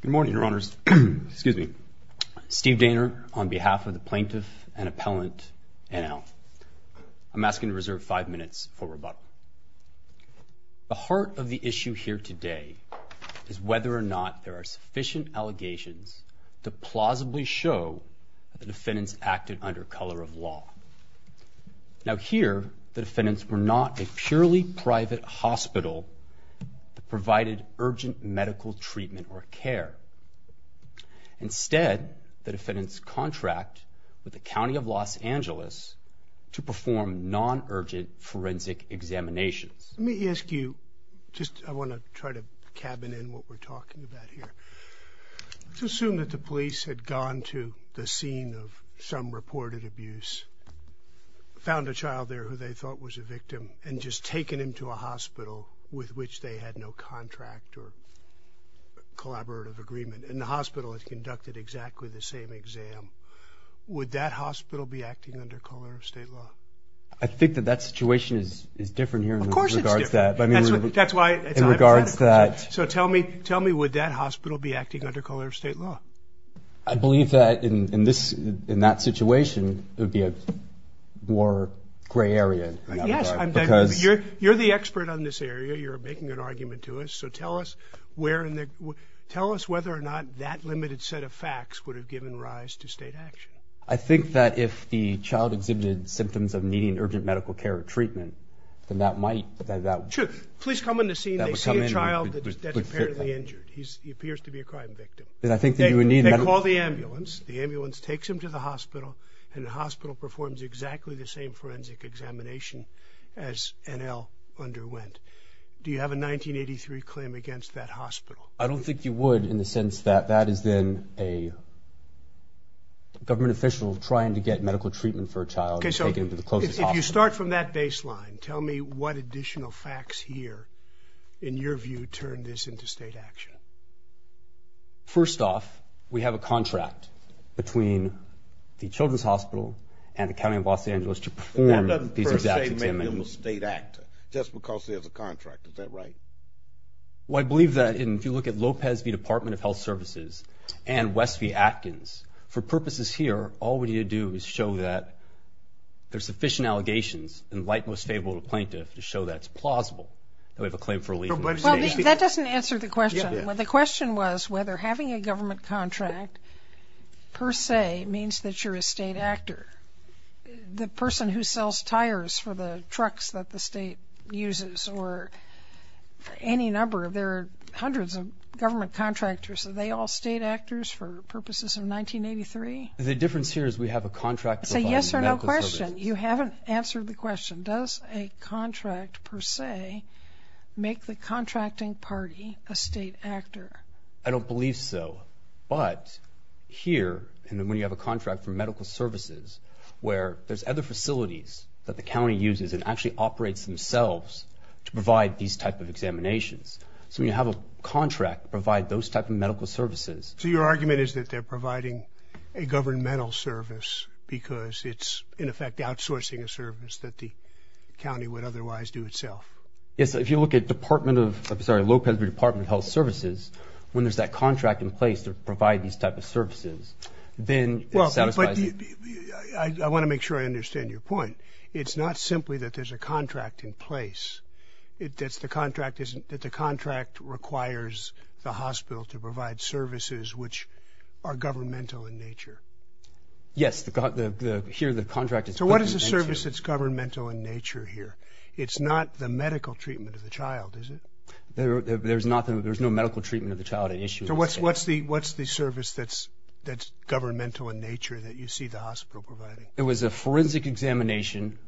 Good morning, Your Honors. Excuse me. Steve Daner on behalf of the plaintiff and appellant NL. I'm asking to reserve five minutes for rebuttal. The heart of the issue here today is whether or not there are sufficient allegations to plausibly show the defendants acted under color of law. Now here the private hospital provided urgent medical treatment or care. Instead, the defendants contract with the County of Los Angeles to perform non-urgent forensic examinations. Let me ask you, just I want to try to cabin in what we're talking about here. Let's assume that the police had gone to the scene of some reported abuse, found a child there who they thought was a victim, and just taken him to a hospital with which they had no contract or collaborative agreement. And the hospital has conducted exactly the same exam. Would that hospital be acting under color of state law? I think that that situation is different here in regards to that. So tell me, tell me, would that hospital be acting under color of state law? I believe that in this, in that You're the expert on this area. You're making an argument to us. So tell us where in the, tell us whether or not that limited set of facts would have given rise to state action. I think that if the child exhibited symptoms of needing urgent medical care or treatment, then that might, that that would. Sure, police come in to see if they see a child that's apparently injured. He appears to be a crime victim. Then I think that you would need. They call the ambulance. The ambulance takes him to the hospital and the hospital performs exactly the same forensic examination as NL underwent. Do you have a 1983 claim against that hospital? I don't think you would in the sense that that is then a government official trying to get medical treatment for a child. Okay, so you start from that baseline. Tell me what additional facts here, in your view, turn this into state action. First off, we have a contract between the Children's Hospital and the state actor, just because there's a contract. Is that right? Well, I believe that if you look at Lopez v. Department of Health Services and West v. Atkins, for purposes here, all we need to do is show that there's sufficient allegations and the light most favorable to plaintiff to show that it's plausible that we have a claim for a leave of absence. That doesn't answer the question. The question was whether having a government contract, per se, means that you're a state actor. The person who sells tires for the trucks that the state uses, or any number, there are hundreds of government contractors. Are they all state actors for purposes of 1983? The difference here is we have a contract. Say yes or no question. You haven't answered the question. Does a contract, per se, make the contracting party a state actor? I don't believe so, but here, and then when you have a contract between the state and the county, you have a contract between the facilities that the county uses and actually operates themselves to provide these type of examinations. So when you have a contract to provide those type of medical services. So your argument is that they're providing a governmental service because it's, in effect, outsourcing a service that the county would otherwise do itself? Yes, if you look at Department of, sorry, Lopez v. Department of Health Services, when there's that contract in place to satisfy. I want to make sure I understand your point. It's not simply that there's a contract in place. It's the contract isn't, that the contract requires the hospital to provide services which are governmental in nature. Yes, here the contract is. So what is the service that's governmental in nature here? It's not the medical treatment of the child, is it? There's nothing, there's no medical treatment of the child at issue. So what's the service that's governmental in nature that you see the hospital providing? It was a forensic examination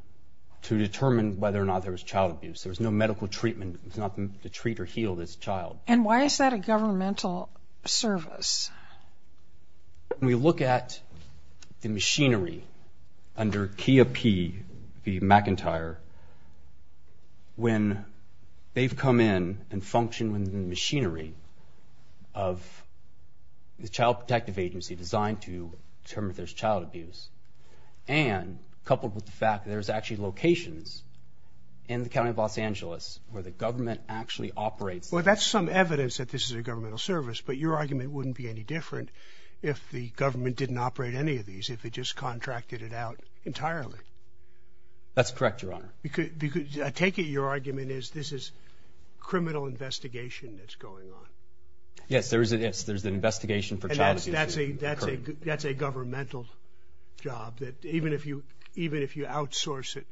to determine whether or not there was child abuse. There was no medical treatment. It's not to treat or heal this child. And why is that a governmental service? When we look at the machinery under Kea P. v. McIntyre, when they've come in and functioned within the machinery of the Child Protective Agency, designed to determine if there's child abuse, and coupled with the fact there's actually locations in the County of Los Angeles where the government actually operates. Well that's some evidence that this is a governmental service, but your argument wouldn't be any different if the government didn't operate any of these, if it just contracted it out entirely. That's correct, Your Honor. Because I take it your argument is this is criminal investigation that's going on. Yes, there is an investigation for child abuse. That's a governmental job, that even if you outsource it,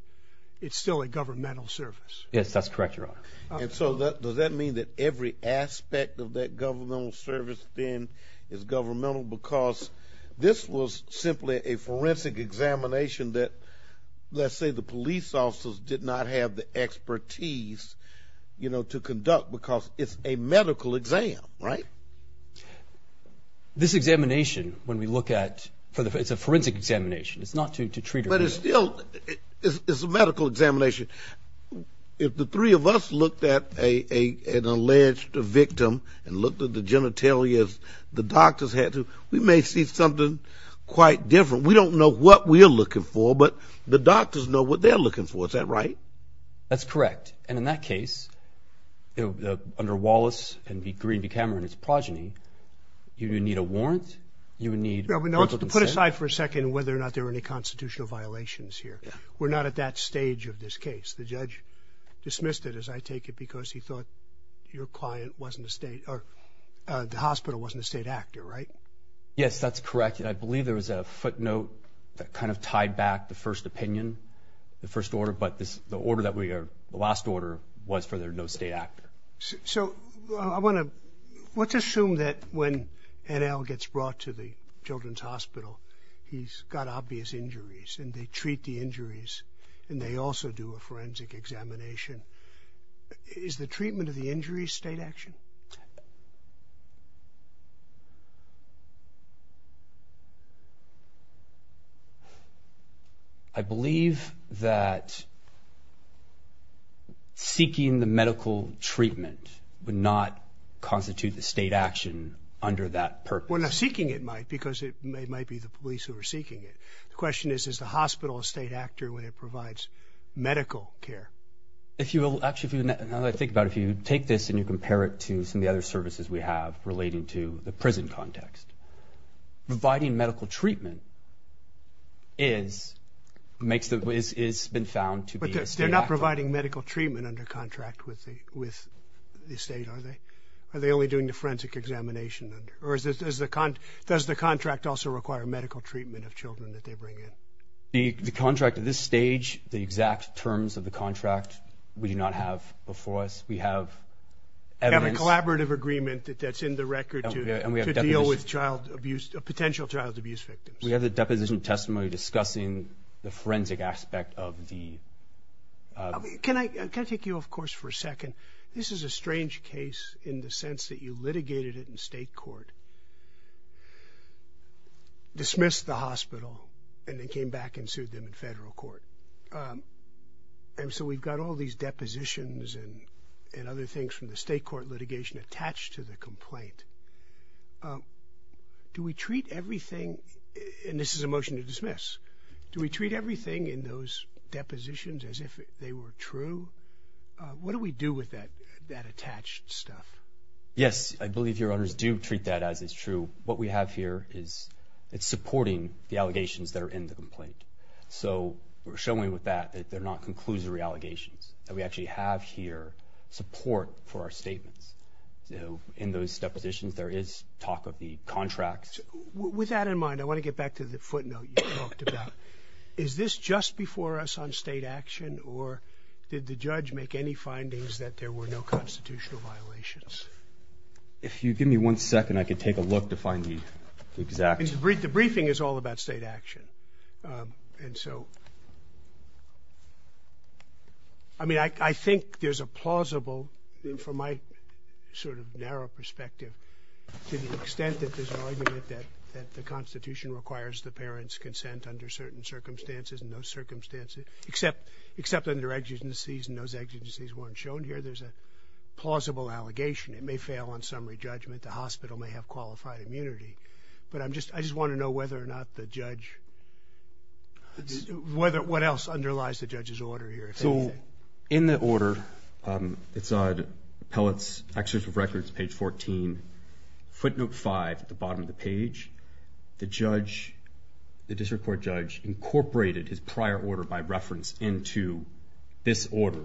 it's still a governmental service. Yes, that's correct, Your Honor. And so does that mean that every aspect of that governmental service then is governmental? Because this was simply a forensic examination that, let's say the police officers did not have the expertise, you know, to conduct because it's a medical exam, right? This examination, when we look at, it's a forensic examination, it's not to treat a person. But it's still a medical examination. If the three of us looked at an alleged victim and looked at the genitalia, the doctors had to, we may see something quite different. We don't know what we are looking for, but the doctors know what they're looking for, is that right? That's correct. And in that case, under Wallace and Green v. Cameron, his progeny, you would need a warrant, you would need... Put aside for a second whether or not there were any constitutional violations here. We're not at that stage of this case. The judge dismissed it, as I take it, because he thought your client wasn't a state, or the hospital wasn't a state actor, right? Yes, that's correct. I believe there was a footnote that kind of tied back the first opinion, the first order, but the order that we are, the last order, was for there to be no state actor. So, I want to, let's assume that when NL gets brought to the Children's Hospital, he's got obvious injuries, and they treat the injuries, and they also do a forensic examination. Is the treatment of the injuries state action? I believe that seeking the medical treatment would not constitute the state action under that purpose. Well, seeking it might, because it might be the police who are seeking it. The question is, is the hospital a state actor when it provides medical care? If you will, actually, now that I think about it, if you take this and you compare it to some of the other services we have relating to the is been found to be a state actor. But they're not providing medical treatment under contract with the state, are they? Are they only doing the forensic examination? Or does the contract also require medical treatment of children that they bring in? The contract at this stage, the exact terms of the contract, we do not have before us. We have evidence. You have a collaborative agreement that's in the record to deal with child abuse, potential child abuse victims. We have the deposition testimony discussing the forensic aspect of the... Can I take you, of course, for a second? This is a strange case in the sense that you litigated it in state court, dismissed the hospital, and then came back and sued them in federal court. And so we've got all these depositions and other things from the state court litigation attached to the complaint. Do we treat everything, and this is a motion to dismiss, do we treat everything in those depositions as if they were true? What do we do with that that attached stuff? Yes, I believe your honors do treat that as it's true. What we have here is it's supporting the allegations that are in the complaint. So we're showing with that that they're not conclusory allegations. That we actually have here support for our statements. In those depositions there is talk of the contracts... With that in mind, I want to get back to the footnote you talked about. Is this just before us on state action, or did the judge make any findings that there were no constitutional violations? If you give me one second I could take a look to find the exact... The briefing is all about state action. And so, I mean, I think there's a plausible, from my sort of narrow perspective, to the extent that there's an argument that the Constitution requires the parents consent under certain circumstances and those circumstances, except under exigencies, and those exigencies weren't shown here, there's a plausible allegation. It may fail on summary judgment. The hospital may have qualified immunity. But I'm just, I just want to know whether or not the judge... What else underlies the judge's order here? So in the order, it's on Appellate's Executive Records, page 14, footnote 5 at the bottom of the page, the judge, the district court judge, incorporated his prior order by reference into this order.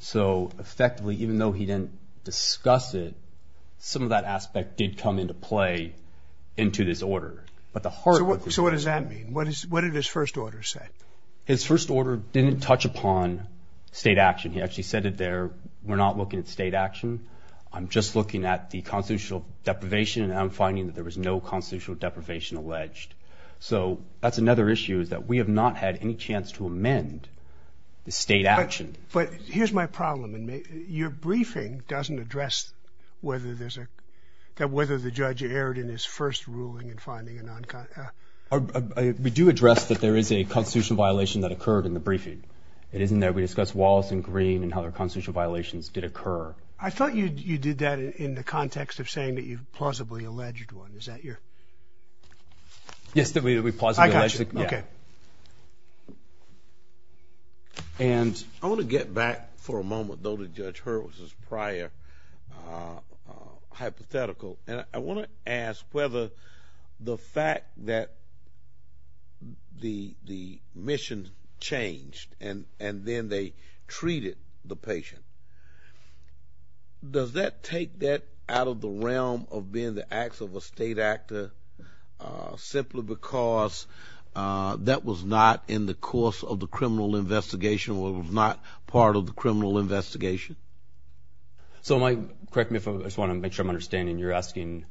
So effectively, even though he didn't discuss it, some of that aspect did come into play into this order. But the heart... So what does that mean? What did his first order say? His first order didn't touch upon state action. He actually said it there, we're not looking at state action. I'm just looking at the constitutional deprivation, and I'm finding that there was no constitutional deprivation alleged. So that's another issue, is that we have not had any chance to amend the state action. But here's my problem, and your briefing doesn't address whether there's a... that whether the judge erred in his first ruling in finding a non-con... We do address that there is a constitutional violation that occurred in the briefing. It isn't that we discussed Wallace and Green and how their did occur. I thought you did that in the context of saying that you've plausibly alleged one. Is that your... Yes, that we would be plausibly alleged. I got you, okay. And I want to get back for a moment, though, to Judge Hurwitz's prior hypothetical, and I want to ask whether the fact that the the mission changed and and then they treated the patient, does that take that out of the realm of being the acts of a state actor, simply because that was not in the course of the criminal investigation, or was not part of the criminal investigation? So, Mike, correct me if I just want to make sure I'm understanding. You're asking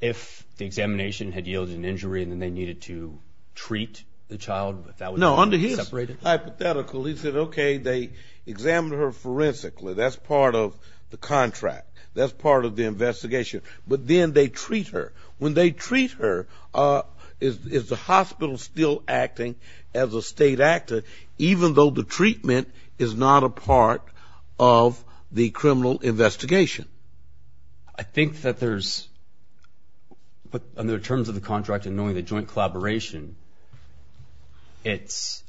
if the examination had yielded an injury and then they needed to treat the child, but no, under his hypothetical, he said, okay, they examined her forensically. That's part of the contract. That's part of the investigation. But then they treat her. When they treat her, is the hospital still acting as a state actor, even though the treatment is not a part of the criminal investigation? I think that there's, but under the terms of the contract and knowing the joint collaboration, it's,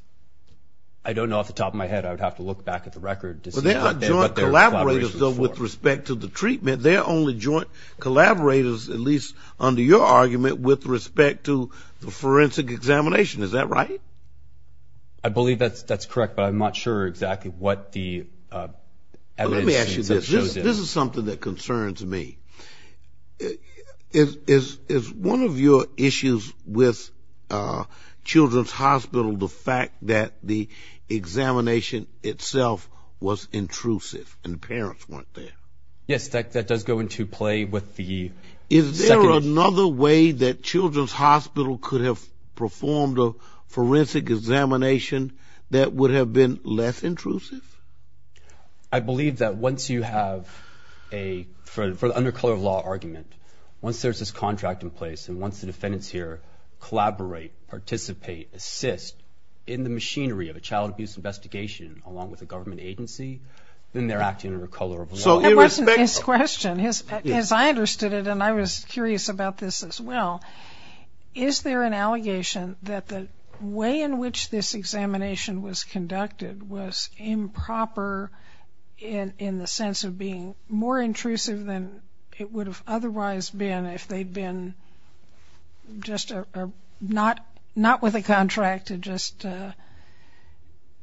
I don't know off the top of my head, I would have to look back at the record to see what their collaboration is for. Well, they're not joint collaborators, though, with respect to the treatment. They're only joint collaborators, at least under your argument, with respect to the forensic examination. Is that right? I believe that's that's correct, but I'm not sure exactly what the evidence shows. Let me ask you this. This is something that concerns me. Is one of your issues with Children's Hospital the fact that the examination itself was intrusive and the parents weren't there? Yes, that does go into play with the... Is there another way that Children's Hospital could have performed a forensic examination that would have been less intrusive? I believe that once you have a, for the undercover law argument, once there's this contract in here, collaborate, participate, assist in the machinery of a child abuse investigation along with a government agency, then they're acting under a color of law. So, irrespective... His question, as I understood it, and I was curious about this as well, is there an allegation that the way in which this examination was conducted was improper in the sense of being more intrusive than it would have otherwise been if they'd been just... or not with a contract and just...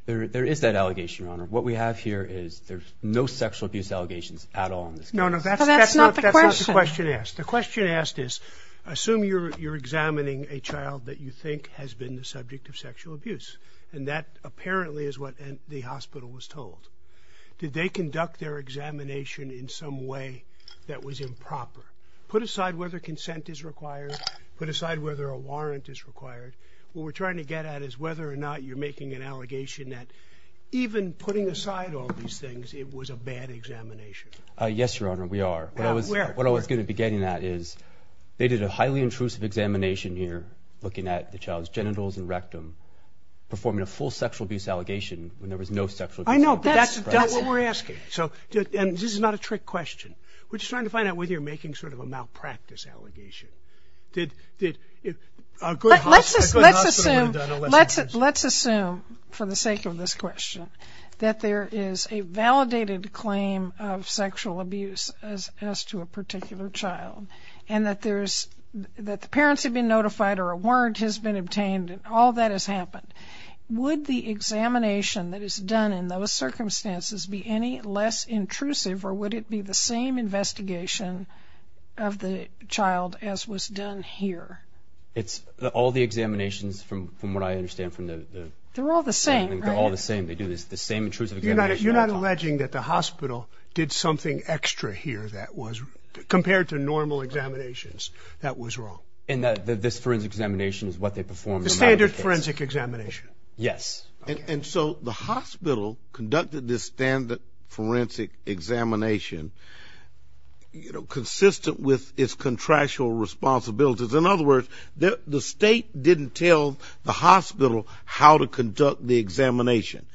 There is that allegation, Your Honor. What we have here is there's no sexual abuse allegations at all. No, no, that's not the question asked. The question asked is, assume you're examining a child that you think has been the subject of sexual abuse, and that apparently is what the hospital was told. Did they conduct their examination in some way that was improper? Put aside whether consent is required, put aside whether a warrant is required. What we're trying to get at is whether or not you're making an allegation that even putting aside all these things, it was a bad examination. Yes, Your Honor, we are. What I was going to be getting at is, they did a highly intrusive examination here, looking at the child's genitals and rectum, performing a full sexual abuse allegation when there was no sexual abuse... I know, but that's not what we're asking. So, and this is not a trick question. We're just trying to find out whether you're making sort of a malpractice allegation. Did a good hospital... Let's assume, for the sake of this question, that there is a validated claim of sexual abuse as to a particular child, and that the parents have been notified or a warrant has been obtained and all that has happened. Would the examination that is done in those circumstances be any less intrusive, or would it be the same investigation of the child as was done here? It's all the examinations, from what I understand, from the... They're all the same, right? They're all the same. They do the same intrusive examinations. You're not alleging that the hospital did something extra here that was, compared to normal examinations, that was wrong? And that this forensic examination is what they performed? The standard forensic examination. Yes. And so, the hospital conducted this standard forensic examination, you know, consistent with its contractual responsibilities. In other words, the state didn't tell the hospital how to conduct the examination.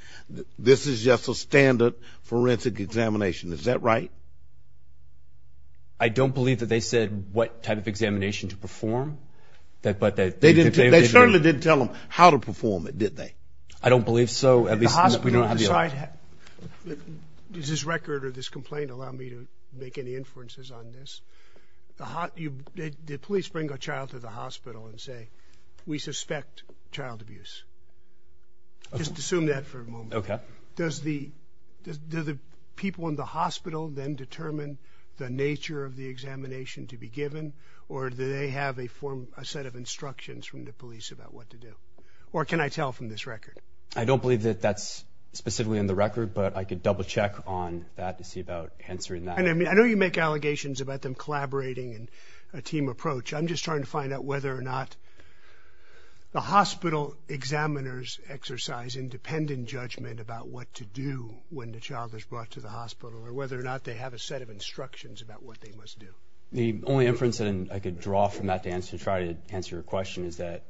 This is just a standard forensic examination. Is that right? I don't believe that they said what type of examination to perform. They certainly didn't tell them how to perform it, did they? I don't believe so. Did the hospital decide... Does this record or this complaint allow me to make any inferences on this? Did police bring a child to the hospital and say, we suspect child abuse? Just assume that for a moment. Okay. Does the people in the hospital then determine the nature of the examination to be given, or do they have a set of instructions from the police about what to do? Or can I tell from this record? I don't believe that that's specifically in the record, but I could double check on that to see about answering that. I know you make allegations about them collaborating in a team approach. I'm just trying to find out whether or not the hospital examiners exercise independent judgment about what to do when the child is brought to the hospital, or whether or not they have a set of instructions about what they must do. The only inference that I could draw from that to try to answer your question is that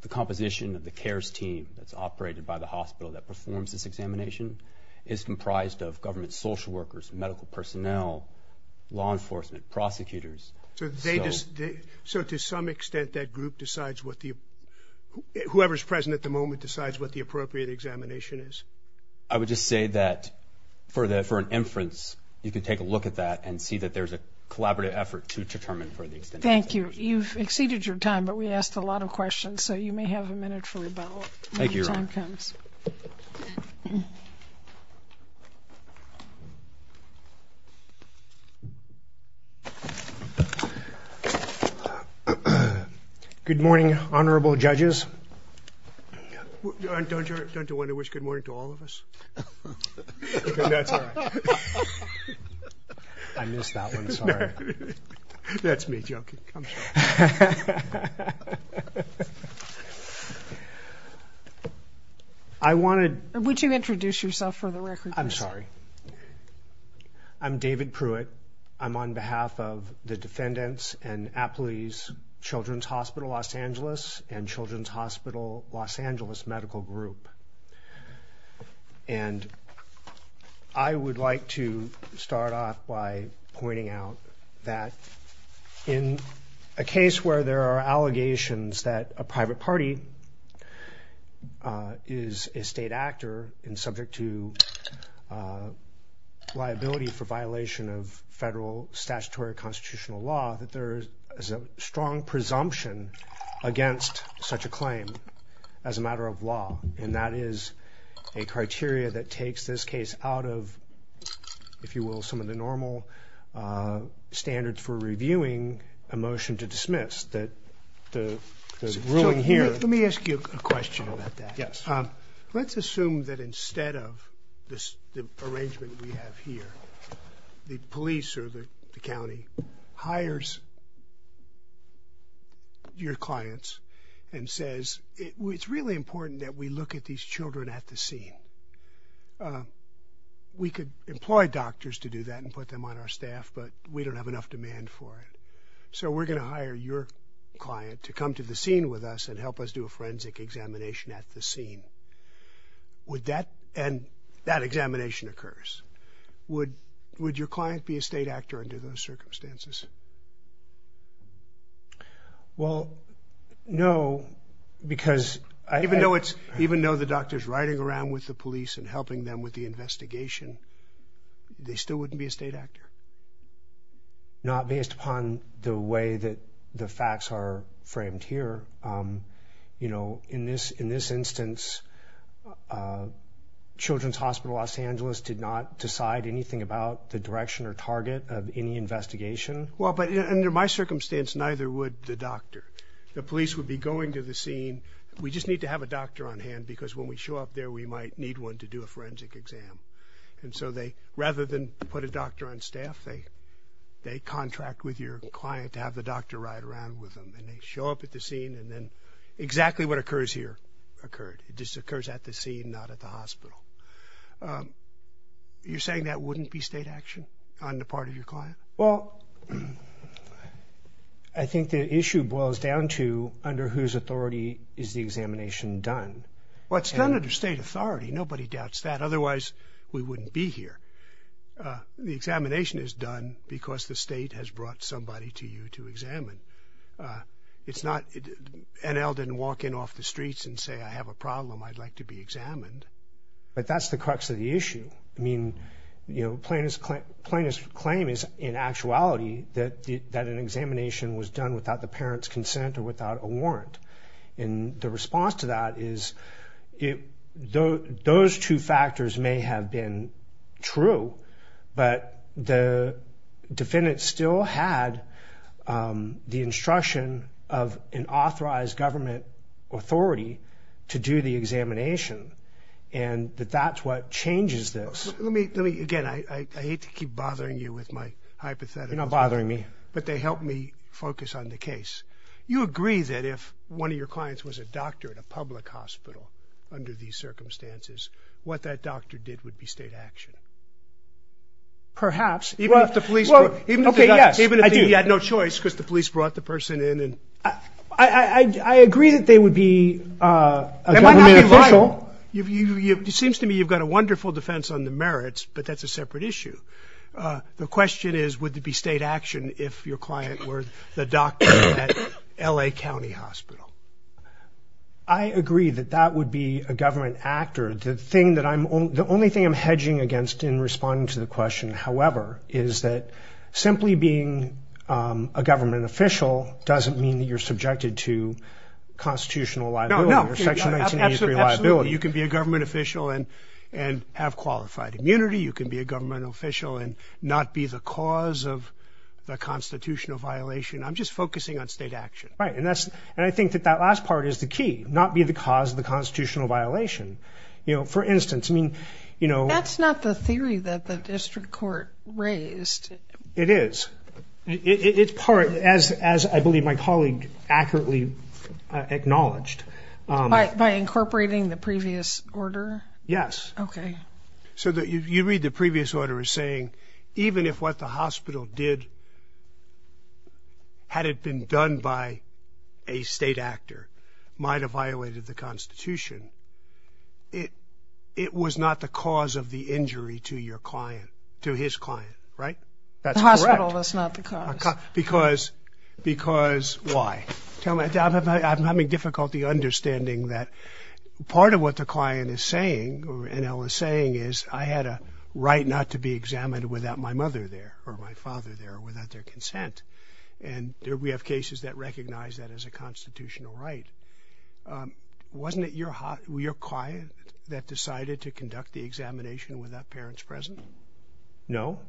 the composition of the CARES team that's operated by the hospital that performs this examination is comprised of government social workers, medical personnel, law enforcement, prosecutors. So to some extent, that group decides what the... Whoever's present at the moment decides what the appropriate examination is. I would just say that for an inference, you could take a look at that and see that there's a collaborative effort to determine for the extent... Thank you. You've exceeded your time, but we asked a lot of questions, so you may have a minute for rebuttal when your time comes. Thank you, Your Honor. Good morning, honorable judges. Don't you want to wish good morning to all of us? That's all right. I missed that one, sorry. That's me joking. I'm sorry. I wanted... Would you introduce yourself for the record, please? I'm sorry. I'm David Pruitt. I'm on behalf of the Defendants and Employees Children's Hospital Los Angeles and Children's Hospital Los Angeles Medical Group. And I would like to start off by pointing out that in a case where there are allegations that a private party is a state actor and subject to liability for violation of federal statutory constitutional law, that there is a strong presumption against such a claim as a matter of law. And that is a criteria that takes this case out of, if you will, some of the normal standards for reviewing a motion to dismiss that the ruling here... Let me ask you a question about that. Yes. Let's assume that instead of the arrangement we have here, the police or the county hires your clients and says, It's really important that we look at these children at the scene. We could employ doctors to do that and put them on our staff, but we don't have enough demand for it. So we're going to hire your client to come to the scene with us and help us do a forensic examination at the scene. And that examination occurs. Would your client be a state actor under those circumstances? Well, no, because... Even though the doctor's riding around with the police and helping them with the investigation, they still wouldn't be a state actor? Not based upon the way that the facts are framed here. You know, in this instance, Children's Hospital Los Angeles did not decide anything about the direction or target of any investigation. Well, but under my circumstance, neither would the doctor. The police would be going to the scene. We just need to have a doctor on hand because when we show up there, we might need one to do a forensic exam. And so rather than put a doctor on staff, they contract with your client to have the doctor ride around with them. And they show up at the scene, and then exactly what occurs here occurred. It just occurs at the scene, not at the hospital. You're saying that wouldn't be state action on the part of your client? Well, I think the issue boils down to under whose authority is the examination done? Well, it's done under state authority. Nobody doubts that. Otherwise, we wouldn't be here. The examination is done because the state has brought somebody to you to examine. It's not NL didn't walk in off the streets and say, I have a problem, I'd like to be examined. But that's the crux of the issue. I mean, you know, plaintiff's claim is in actuality that an examination was done without the parent's consent or without a warrant. And the response to that is those two factors may have been true. But the defendant still had the instruction of an authorized government authority to do the examination. And that's what changes this. Let me, again, I hate to keep bothering you with my hypotheticals. You're not bothering me. But they help me focus on the case. You agree that if one of your clients was a doctor at a public hospital under these circumstances, what that doctor did would be state action. Perhaps. Even if the police, even if he had no choice because the police brought the person in. I agree that they would be a government official. It seems to me you've got a wonderful defense on the merits, but that's a separate issue. The question is, would it be state action if your client were the doctor at L.A. County Hospital? I agree that that would be a government actor. The thing that I'm, the only thing I'm hedging against in responding to the question, however, is that simply being a government official doesn't mean that you're subjected to constitutional liability or Section 1983 liability. Absolutely. You can be a government official and have qualified immunity. You can be a government official and not be the cause of the constitutional violation. I'm just focusing on state action. Right. And I think that that last part is the key, not be the cause of the constitutional violation. You know, for instance, I mean, you know. That's not the theory that the district court raised. It is. It's part, as I believe my colleague accurately acknowledged. By incorporating the previous order? Yes. Okay. So you read the previous order as saying even if what the hospital did, had it been done by a state actor, might have violated the Constitution, it was not the cause of the injury to your client, to his client. Right? That's correct. The hospital was not the cause. Because why? I'm having difficulty understanding that part of what the client is saying, or Enel is saying, is I had a right not to be examined without my mother there, or my father there, or without their consent. And we have cases that recognize that as a constitutional right. Wasn't it your client that decided to conduct the examination without parents present? No.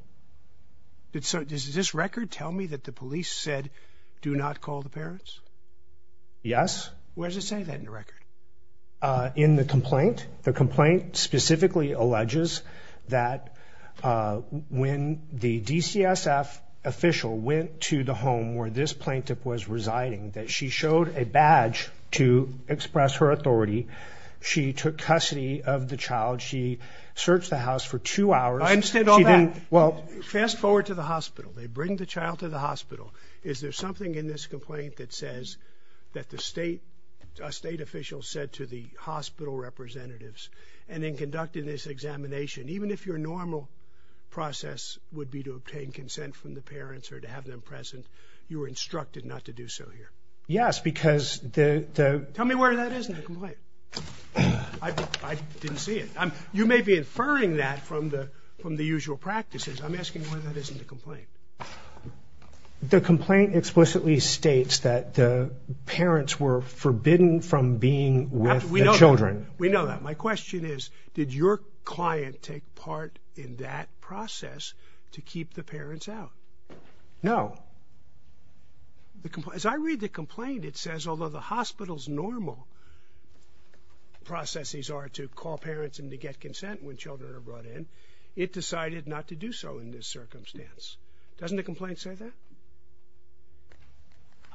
So does this record tell me that the police said do not call the parents? Yes. Where does it say that in the record? In the complaint. The complaint specifically alleges that when the DCSF official went to the home where this plaintiff was residing, that she showed a badge to express her authority. She took custody of the child. She searched the house for two hours. I understand all that. Well, fast forward to the hospital. They bring the child to the hospital. Is there something in this complaint that says that the state official said to the hospital representatives, and in conducting this examination, even if your normal process would be to obtain consent from the parents or to have them present, you were instructed not to do so here? Yes, because the ‑‑ Tell me where that is in the complaint. I didn't see it. You may be inferring that from the usual practices. I'm asking where that is in the complaint. The complaint explicitly states that the parents were forbidden from being with the children. We know that. My question is, did your client take part in that process to keep the parents out? No. As I read the complaint, it says, although the hospital's normal processes are to call parents and to get consent when children are brought in, it decided not to do so in this circumstance. Doesn't the complaint say that?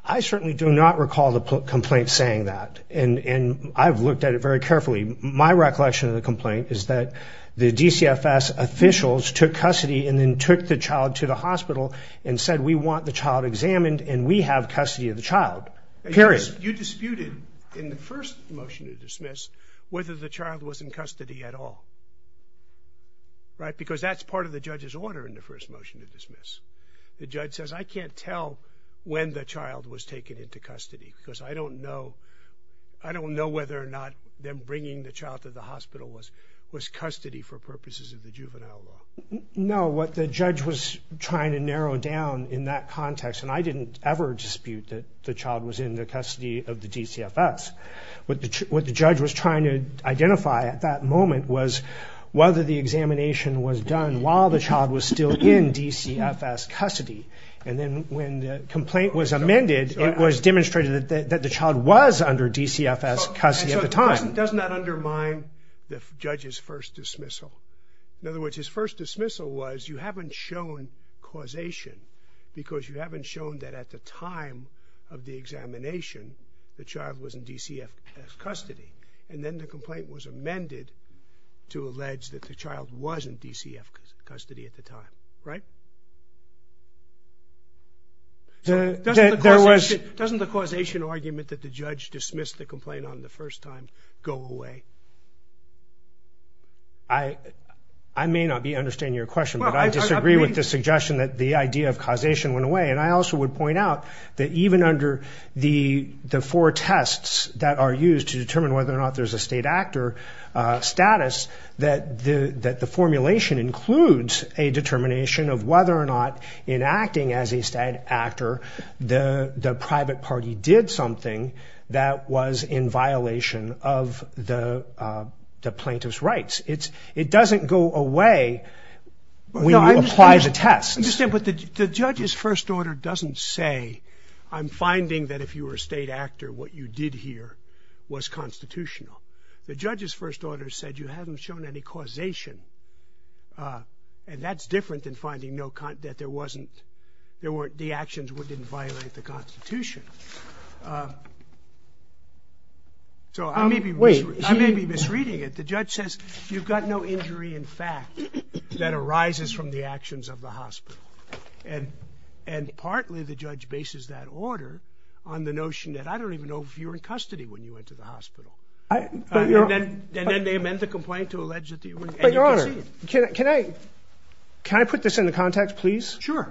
I certainly do not recall the complaint saying that, and I've looked at it very carefully. My recollection of the complaint is that the DCFS officials took custody and then took the child to the hospital and said we want the child examined and we have custody of the child, period. You disputed in the first motion to dismiss whether the child was in custody at all, right? Because that's part of the judge's order in the first motion to dismiss. The judge says, I can't tell when the child was taken into custody because I don't know whether or not them bringing the child to the hospital was custody for purposes of the juvenile law. No, what the judge was trying to narrow down in that context, and I didn't ever dispute that the child was in the custody of the DCFS, what the judge was trying to identify at that moment was whether the examination was done while the child was still in DCFS custody. And then when the complaint was amended, it was demonstrated that the child was under DCFS custody at the time. Doesn't that undermine the judge's first dismissal? In other words, his first dismissal was you haven't shown causation because you haven't shown that at the time of the examination, the child was in DCFS custody. And then the complaint was amended to allege that the child was in DCFS custody at the time, right? Doesn't the causation argument that the judge dismissed the complaint on the first time go away? I may not be understanding your question, but I disagree with the suggestion that the idea of causation went away. And I also would point out that even under the four tests that are used to determine whether or not there's a state actor status, that the formulation includes a determination of whether or not in acting as a state actor the private party did something that was in violation of the plaintiff's rights. It doesn't go away when you apply the tests. I understand, but the judge's first order doesn't say, I'm finding that if you were a state actor, what you did here was constitutional. The judge's first order said you haven't shown any causation. And that's different than finding that the actions didn't violate the Constitution. So I may be misreading it. The judge says you've got no injury in fact that arises from the actions of the hospital. And partly the judge bases that order on the notion that I don't even know if you were in custody when you went to the hospital. And then they amend the complaint to allege that you were. But Your Honor, can I put this into context, please? Sure.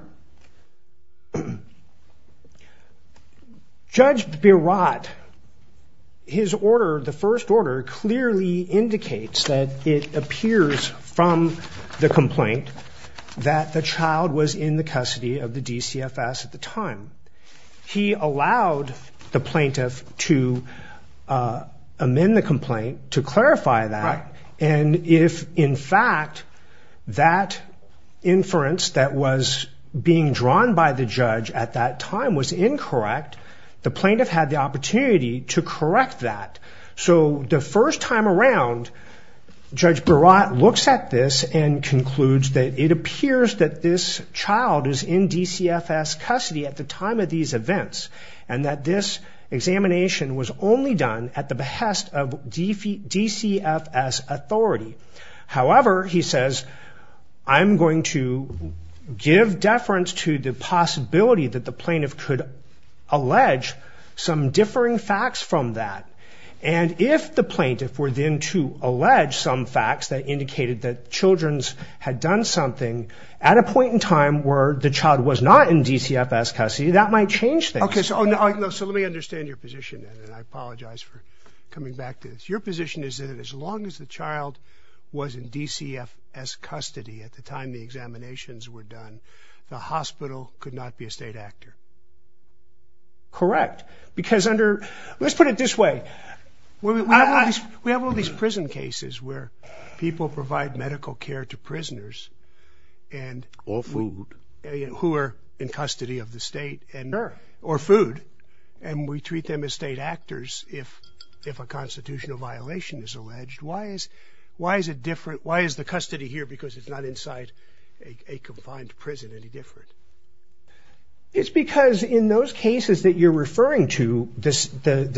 Judge Berat, his order, the first order, clearly indicates that it appears from the complaint that the child was in the custody of the DCFS at the time. He allowed the plaintiff to amend the complaint to clarify that. And if in fact that inference that was being drawn by the judge at that time was incorrect, the plaintiff had the opportunity to correct that. So the first time around, Judge Berat looks at this and concludes that it appears that this child is in DCFS custody at the time of these events and that this examination was only done at the behest of DCFS authority. However, he says, I'm going to give deference to the possibility that the plaintiff could allege some differing facts from that. And if the plaintiff were then to allege some facts that indicated that children had done something at a point in time where the child was not in DCFS custody, that might change things. Okay, so let me understand your position. And I apologize for coming back to this. Your position is that as long as the child was in DCFS custody at the time the examinations were done, the hospital could not be a state actor. Correct. Because under, let's put it this way. We have all these prison cases where people provide medical care to prisoners. Or food. Who are in custody of the state. Or food. And we treat them as state actors if a constitutional violation is alleged. Why is the custody here, because it's not inside a confined prison, any different? It's because in those cases that you're referring to, the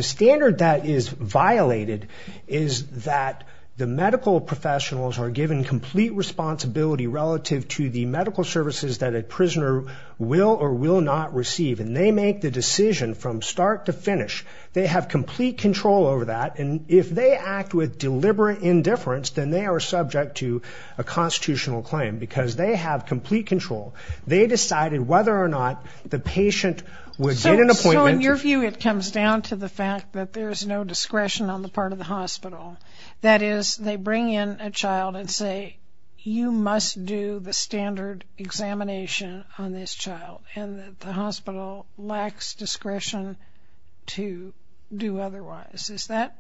standard that is violated is that the medical professionals are given complete responsibility relative to the medical services that a prisoner will or will not receive. And they make the decision from start to finish. They have complete control over that. And if they act with deliberate indifference, then they are subject to a constitutional claim because they have complete control. They decided whether or not the patient would get an appointment. So in your view, it comes down to the fact that there's no discretion on the part of the hospital. That is, they bring in a child and say, you must do the standard examination on this child. And the hospital lacks discretion to do otherwise. Is that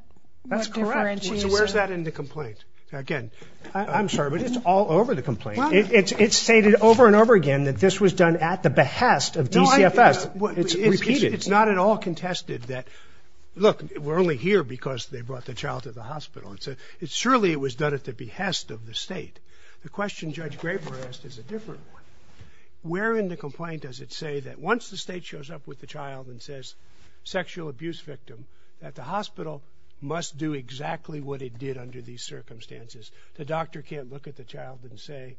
what differentiates it? That's correct. So where's that in the complaint? Again, I'm sorry, but it's all over the complaint. It's stated over and over again that this was done at the behest of DCFS. It's repeated. It's not at all contested that, look, we're only here because they brought the child to the hospital. Surely it was done at the behest of the state. The question Judge Graber asked is a different one. Where in the complaint does it say that once the state shows up with the child and says sexual abuse victim, that the hospital must do exactly what it did under these circumstances? The doctor can't look at the child and say,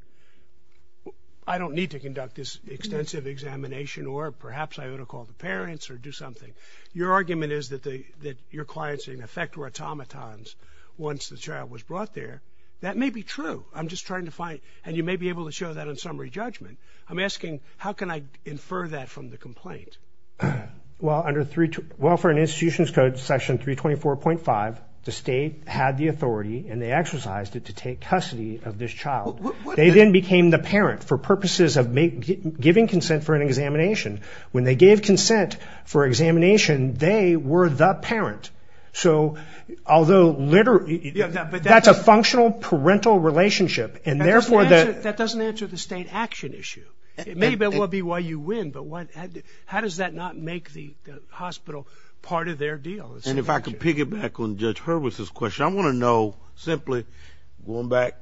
I don't need to conduct this extensive examination or perhaps I ought to call the parents or do something. Your argument is that your clients, in effect, were automatons once the child was brought there. That may be true. I'm just trying to find it. And you may be able to show that on summary judgment. I'm asking, how can I infer that from the complaint? Well, under Welfare and Institutions Code, Section 324.5, the state had the authority and they exercised it to take custody of this child. They then became the parent for purposes of giving consent for an examination. When they gave consent for examination, they were the parent. So, although literally, that's a functional parental relationship. That doesn't answer the state action issue. Maybe that will be why you win, but how does that not make the hospital part of their deal? And if I can piggyback on Judge Hurwitz's question, which I want to know simply, going back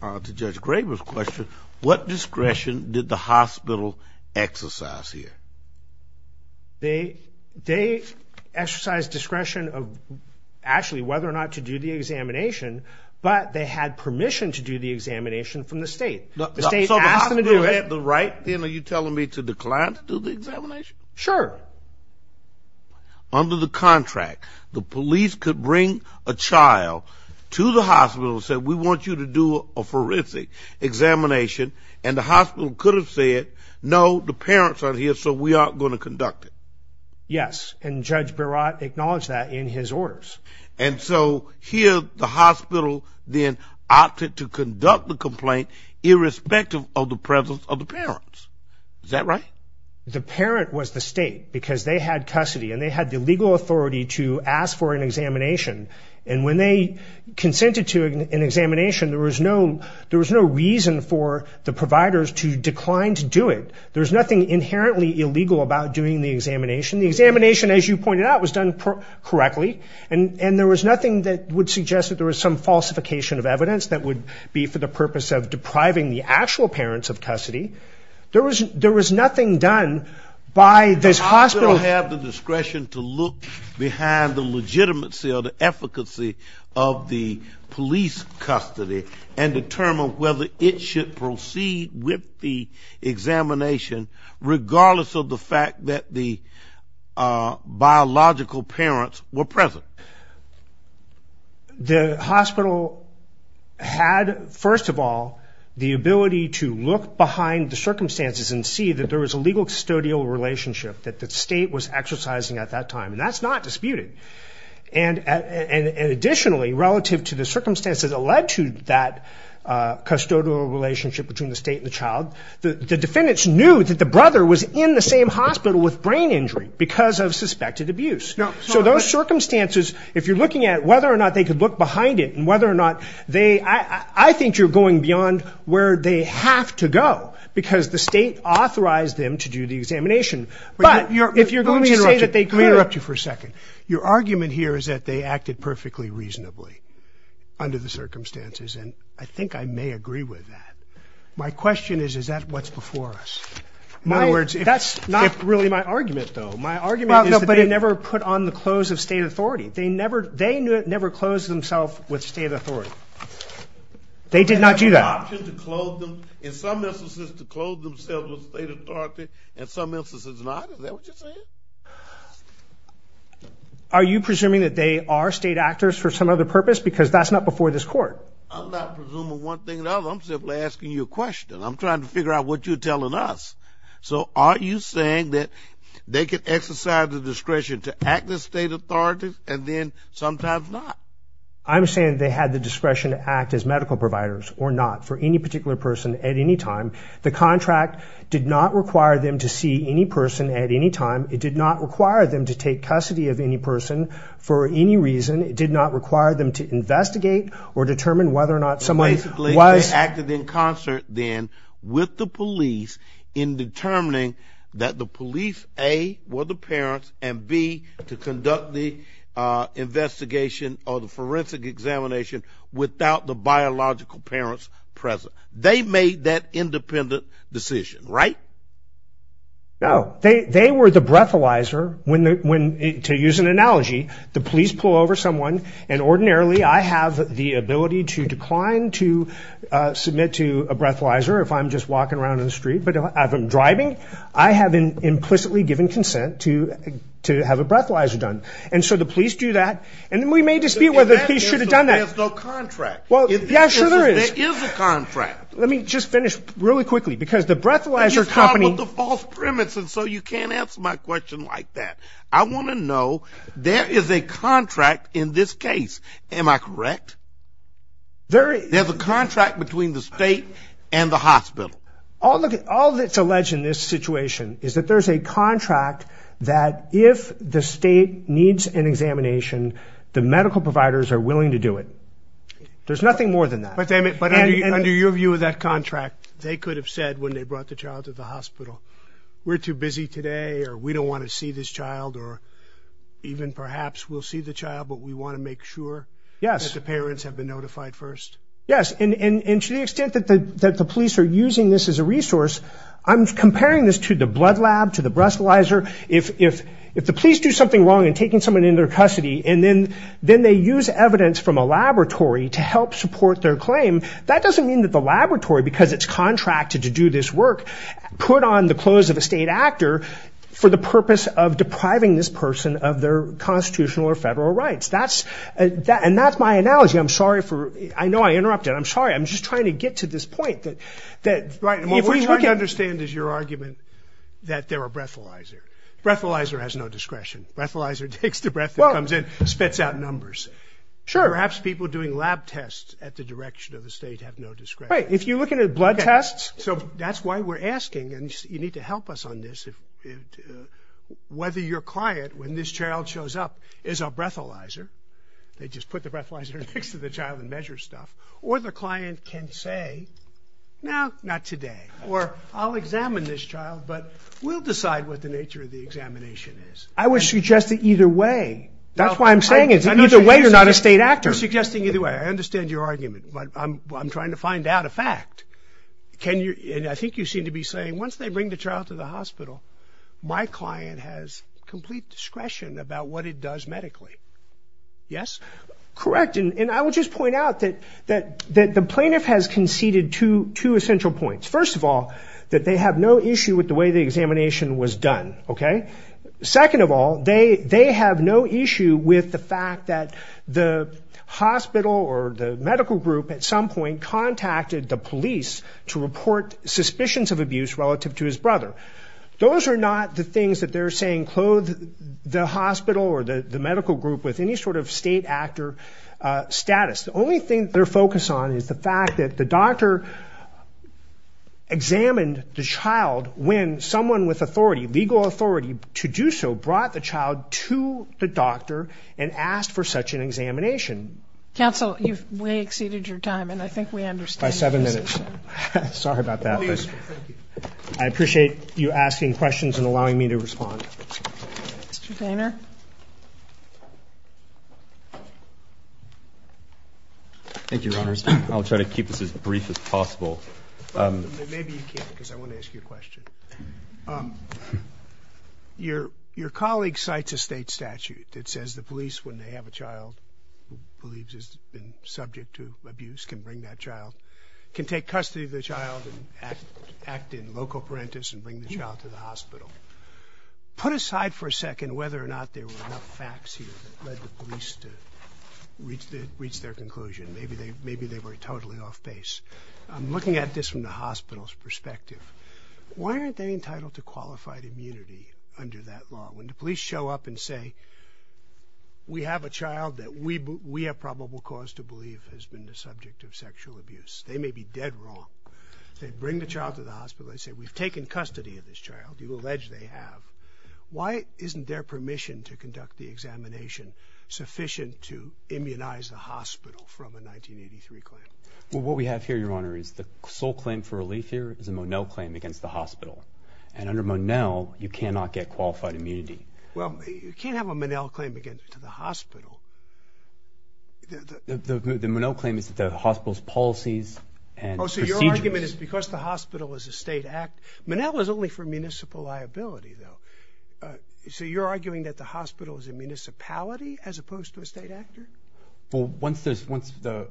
to Judge Graber's question, what discretion did the hospital exercise here? They exercised discretion of actually whether or not to do the examination, but they had permission to do the examination from the state. The state asked them to do it. So the hospital had the right, then, are you telling me, to decline to do the examination? Sure. Under the contract, the police could bring a child to the hospital and say, we want you to do a forensic examination, and the hospital could have said, no, the parents are here, so we aren't going to conduct it. Yes, and Judge Barat acknowledged that in his orders. And so, here, the hospital then opted to conduct the complaint irrespective of the presence of the parents. Is that right? The parent was the state because they had custody and they had the legal authority to ask for an examination. And when they consented to an examination, there was no reason for the providers to decline to do it. There was nothing inherently illegal about doing the examination. The examination, as you pointed out, was done correctly, and there was nothing that would suggest that there was some falsification of evidence that would be for the purpose of depriving the actual parents of custody. There was nothing done by this hospital. The hospital had the discretion to look behind the legitimacy or the efficacy of the police custody and determine whether it should proceed with the examination regardless of the fact that the biological parents were present. The hospital had, first of all, the ability to look behind the circumstances and see that there was a legal custodial relationship that the state was exercising at that time, and that's not disputed. And additionally, relative to the circumstances that led to that custodial relationship between the state and the child, the defendants knew that the brother was in the same hospital with brain injury because of suspected abuse. So those circumstances, if you're looking at whether or not they could look behind it and whether or not they... I think you're going beyond where they have to go because the state authorized them to do the examination. But if you're going to say that they could... Let me interrupt you for a second. Your argument here is that they acted perfectly reasonably under the circumstances, and I think I may agree with that. My question is, is that what's before us? In other words, that's not really my argument, though. My argument is that they never put on the clothes of state authority. They never closed themselves with state authority. They did not do that. In some instances to clothe themselves with state authority, in some instances not. Is that what you're saying? Are you presuming that they are state actors for some other purpose because that's not before this Court? I'm not presuming one thing or another. I'm simply asking you a question. I'm trying to figure out what you're telling us. So are you saying that they could exercise the discretion to act as state authorities and then sometimes not? I'm saying they had the discretion to act as medical providers or not for any particular person at any time. The contract did not require them to see any person at any time. It did not require them to take custody of any person for any reason. It did not require them to investigate or determine whether or not somebody was... in determining that the police, A, were the parents, and, B, to conduct the investigation or the forensic examination without the biological parents present. They made that independent decision, right? No. They were the breathalyzer when, to use an analogy, the police pull over someone and ordinarily I have the ability to decline to submit to a breathalyzer if I'm just walking around in the street, but if I'm driving, I have been implicitly given consent to have a breathalyzer done. And so the police do that. And we may dispute whether the police should have done that. There's no contract. Well, yeah, sure there is. There is a contract. Let me just finish really quickly because the breathalyzer company... You just come up with the false premise and so you can't answer my question like that. I want to know there is a contract in this case. Am I correct? There is. There's a contract between the state and the hospital. All that's alleged in this situation is that there's a contract that if the state needs an examination, the medical providers are willing to do it. There's nothing more than that. But under your view of that contract, they could have said when they brought the child to the hospital, we're too busy today or we don't want to see this child or even perhaps we'll see the child but we want to make sure that the parents have been notified first? Yes. And to the extent that the police are using this as a resource, I'm comparing this to the blood lab, to the breathalyzer. If the police do something wrong in taking someone into their custody and then they use evidence from a laboratory to help support their claim, that doesn't mean that the laboratory, because it's contracted to do this work, put on the clothes of a state actor for the purpose of depriving this person of their constitutional or federal rights. And that's my analogy. I'm sorry. I know I interrupted. I'm sorry. I'm just trying to get to this point. What we're trying to understand is your argument that they're a breathalyzer. Breathalyzer has no discretion. Breathalyzer takes the breath that comes in, spits out numbers. Sure. Perhaps people doing lab tests at the direction of the state have no discretion. Right. If you're looking at blood tests. So that's why we're asking, and you need to help us on this, whether your client, when this child shows up, is a breathalyzer. They just put the breathalyzer next to the child and measure stuff. Or the client can say, no, not today. Or I'll examine this child, but we'll decide what the nature of the examination is. I would suggest that either way. That's why I'm saying it. Either way, you're not a state actor. I'm suggesting either way. I understand your argument, but I'm trying to find out a fact. I think you seem to be saying once they bring the child to the hospital, my client has complete discretion about what it does medically. Yes? Correct. And I will just point out that the plaintiff has conceded two essential points. First of all, that they have no issue with the way the examination was done. Second of all, they have no issue with the fact that the hospital or the medical group at some point contacted the police to report suspicions of abuse relative to his brother. Those are not the things that they're saying clothed the hospital or the medical group with any sort of state actor status. The only thing they're focused on is the fact that the doctor examined the child when someone with authority, legal authority, to do so brought the child to the doctor and asked for such an examination. Counsel, you've way exceeded your time, and I think we understand. By seven minutes. Sorry about that. Thank you. I appreciate you asking questions and allowing me to respond. Mr. Daynor? Thank you, Your Honors. I'll try to keep this as brief as possible. Maybe you can't because I want to ask you a question. Your colleague cites a state statute that says the police, when they have a child who believes has been subject to abuse, can bring that child, can take custody of the child and act in loco parentis and bring the child to the hospital. Put aside for a second whether or not there were enough facts here that led the police to reach their conclusion. Maybe they were totally off base. Looking at this from the hospital's perspective, why aren't they entitled to qualified immunity under that law? When the police show up and say, we have a child that we have probable cause to believe has been the subject of sexual abuse, they may be dead wrong. They bring the child to the hospital. They say, we've taken custody of this child. You allege they have. Why isn't their permission to conduct the examination sufficient to immunize the hospital from a 1983 claim? Well, what we have here, Your Honor, is the sole claim for relief here is a Monell claim against the hospital. And under Monell, you cannot get qualified immunity. Well, you can't have a Monell claim against the hospital. The Monell claim is the hospital's policies and procedures. Oh, so your argument is because the hospital is a state act. Monell is only for municipal liability, though. So you're arguing that the hospital is a municipality as opposed to a state actor? Well, once the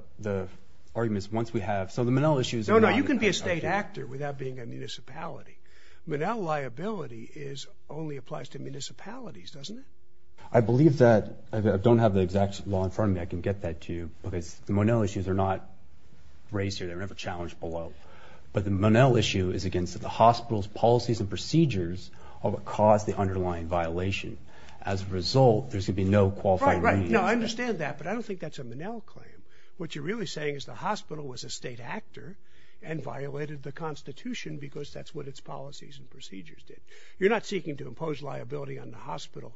argument is once we have – so the Monell issue is – No, no, you can be a state actor without being a municipality. Monell liability only applies to municipalities, doesn't it? I believe that – I don't have the exact law in front of me. I can get that to you because the Monell issues are not raised here. They're never challenged below. But the Monell issue is against the hospital's policies and procedures of what caused the underlying violation. As a result, there's going to be no qualified immunity. Right, right. No, I understand that. But I don't think that's a Monell claim. What you're really saying is the hospital was a state actor and violated the Constitution because that's what its policies and procedures did. You're not seeking to impose liability on the hospital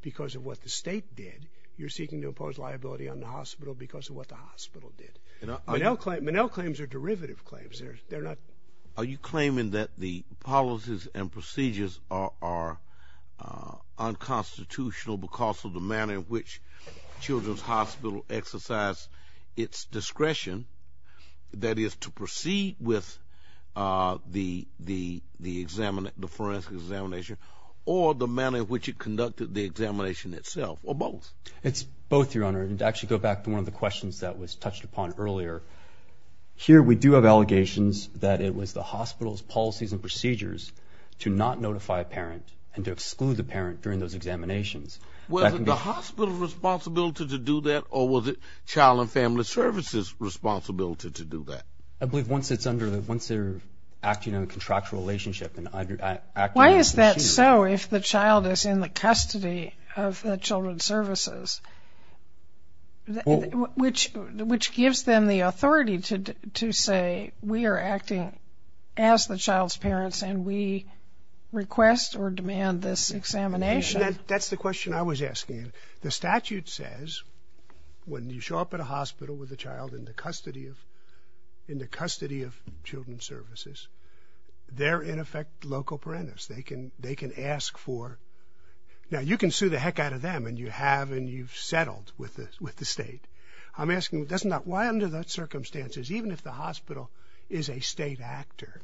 because of what the state did. You're seeking to impose liability on the hospital because of what the hospital did. Monell claims are derivative claims. Are you claiming that the policies and procedures are unconstitutional because of the manner in which Children's Hospital exercised its discretion, that is, to proceed with the forensic examination, or the manner in which it conducted the examination itself, or both? It's both, Your Honor. And to actually go back to one of the questions that was touched upon earlier, here we do have allegations that it was the hospital's policies and procedures to not notify a parent and to exclude the parent during those examinations. Was it the hospital's responsibility to do that, or was it Child and Family Services' responsibility to do that? I believe once they're acting in a contractual relationship and acting under the procedure. Why is that so if the child is in the custody of the Children's Services, which gives them the authority to say, we are acting as the child's parents and we request or demand this examination? That's the question I was asking. The statute says when you show up at a hospital with a child in the custody of Children's Services, they're, in effect, local parenters. They can ask for ñ now, you can sue the heck out of them, and you have and you've settled with the state. I'm asking, why under those circumstances, even if the hospital is a state actor,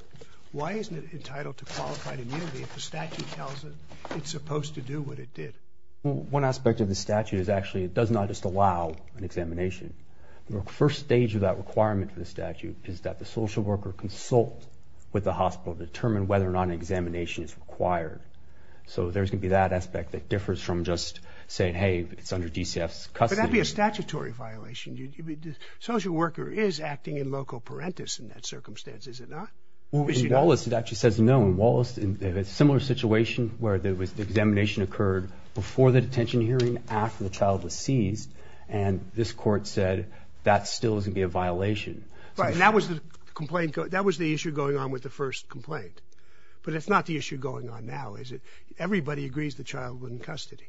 why isn't it entitled to qualified immunity if the statute tells it it's supposed to do what it did? One aspect of the statute is actually it does not just allow an examination. The first stage of that requirement for the statute is that the social worker consult with the hospital to determine whether or not an examination is required. So there's going to be that aspect that differs from just saying, hey, it's under DCF's custody. But that would be a statutory violation. The social worker is acting in loco parentis in that circumstance, is it not? In Wallace, it actually says no. In Wallace, a similar situation where the examination occurred before the detention hearing, after the child was seized, and this court said that still is going to be a violation. Right, and that was the issue going on with the first complaint. But it's not the issue going on now, is it? Everybody agrees the child was in custody.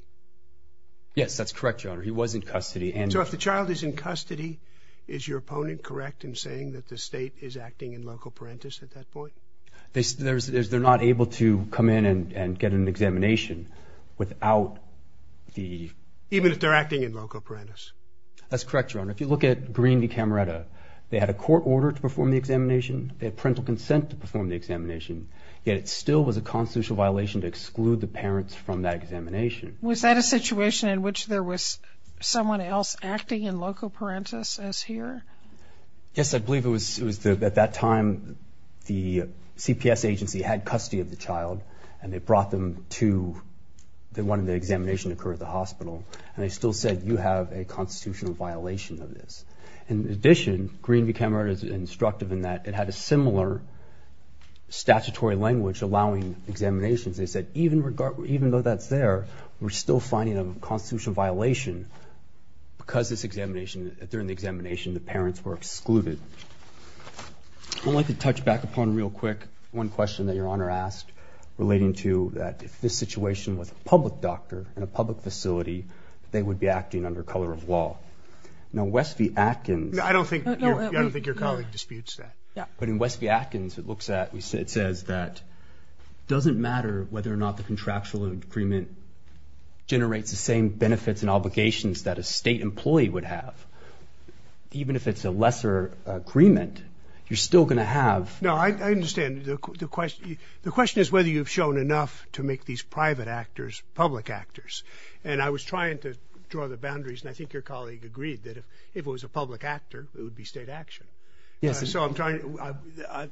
Yes, that's correct, Your Honor. He was in custody. So if the child is in custody, is your opponent correct in saying that the state is acting in loco parentis at that point? They're not able to come in and get an examination without the... Even if they're acting in loco parentis? That's correct, Your Honor. If you look at Greene v. Camaretta, they had a court order to perform the examination. They had parental consent to perform the examination. Yet it still was a constitutional violation to exclude the parents from that examination. Was that a situation in which there was someone else acting in loco parentis as here? Yes, I believe it was at that time the CPS agency had custody of the child and they brought them to the one where the examination occurred at the hospital, and they still said you have a constitutional violation of this. In addition, Greene v. Camaretta is instructive in that it had a similar statutory language allowing examinations. They said even though that's there, we're still finding a constitutional violation because during the examination the parents were excluded. I'd like to touch back upon real quick one question that Your Honor asked relating to if this situation was a public doctor in a public facility, they would be acting under color of law. Now West v. Atkins... I don't think your colleague disputes that. But in West v. Atkins it says that it doesn't matter whether or not the contractual agreement generates the same benefits and obligations that a state employee would have. Even if it's a lesser agreement, you're still going to have... No, I understand. The question is whether you've shown enough to make these private actors public actors. And I was trying to draw the boundaries, and I think your colleague agreed that if it was a public actor, it would be state action. So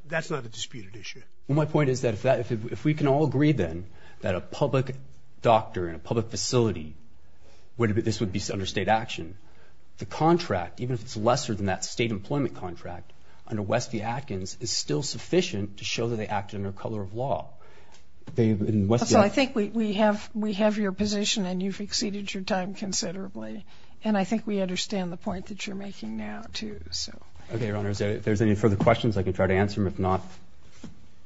that's not a disputed issue. My point is that if we can all agree then that a public doctor in a public facility, this would be under state action, the contract, even if it's lesser than that state employment contract under West v. Atkins, is still sufficient to show that they acted under color of law. So I think we have your position, and you've exceeded your time considerably. And I think we understand the point that you're making now too. Okay, Your Honor. If there's any further questions, I can try to answer them. If not...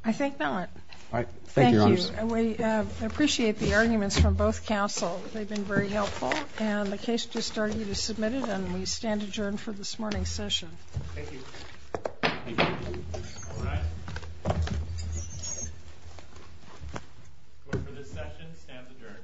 I think that one. All right. Thank you, Your Honors. Thank you. We appreciate the arguments from both counsel. They've been very helpful. And the case is starting to be submitted, and we stand adjourned for this morning's session. Thank you. Thank you. All rise. Court for this session stands adjourned.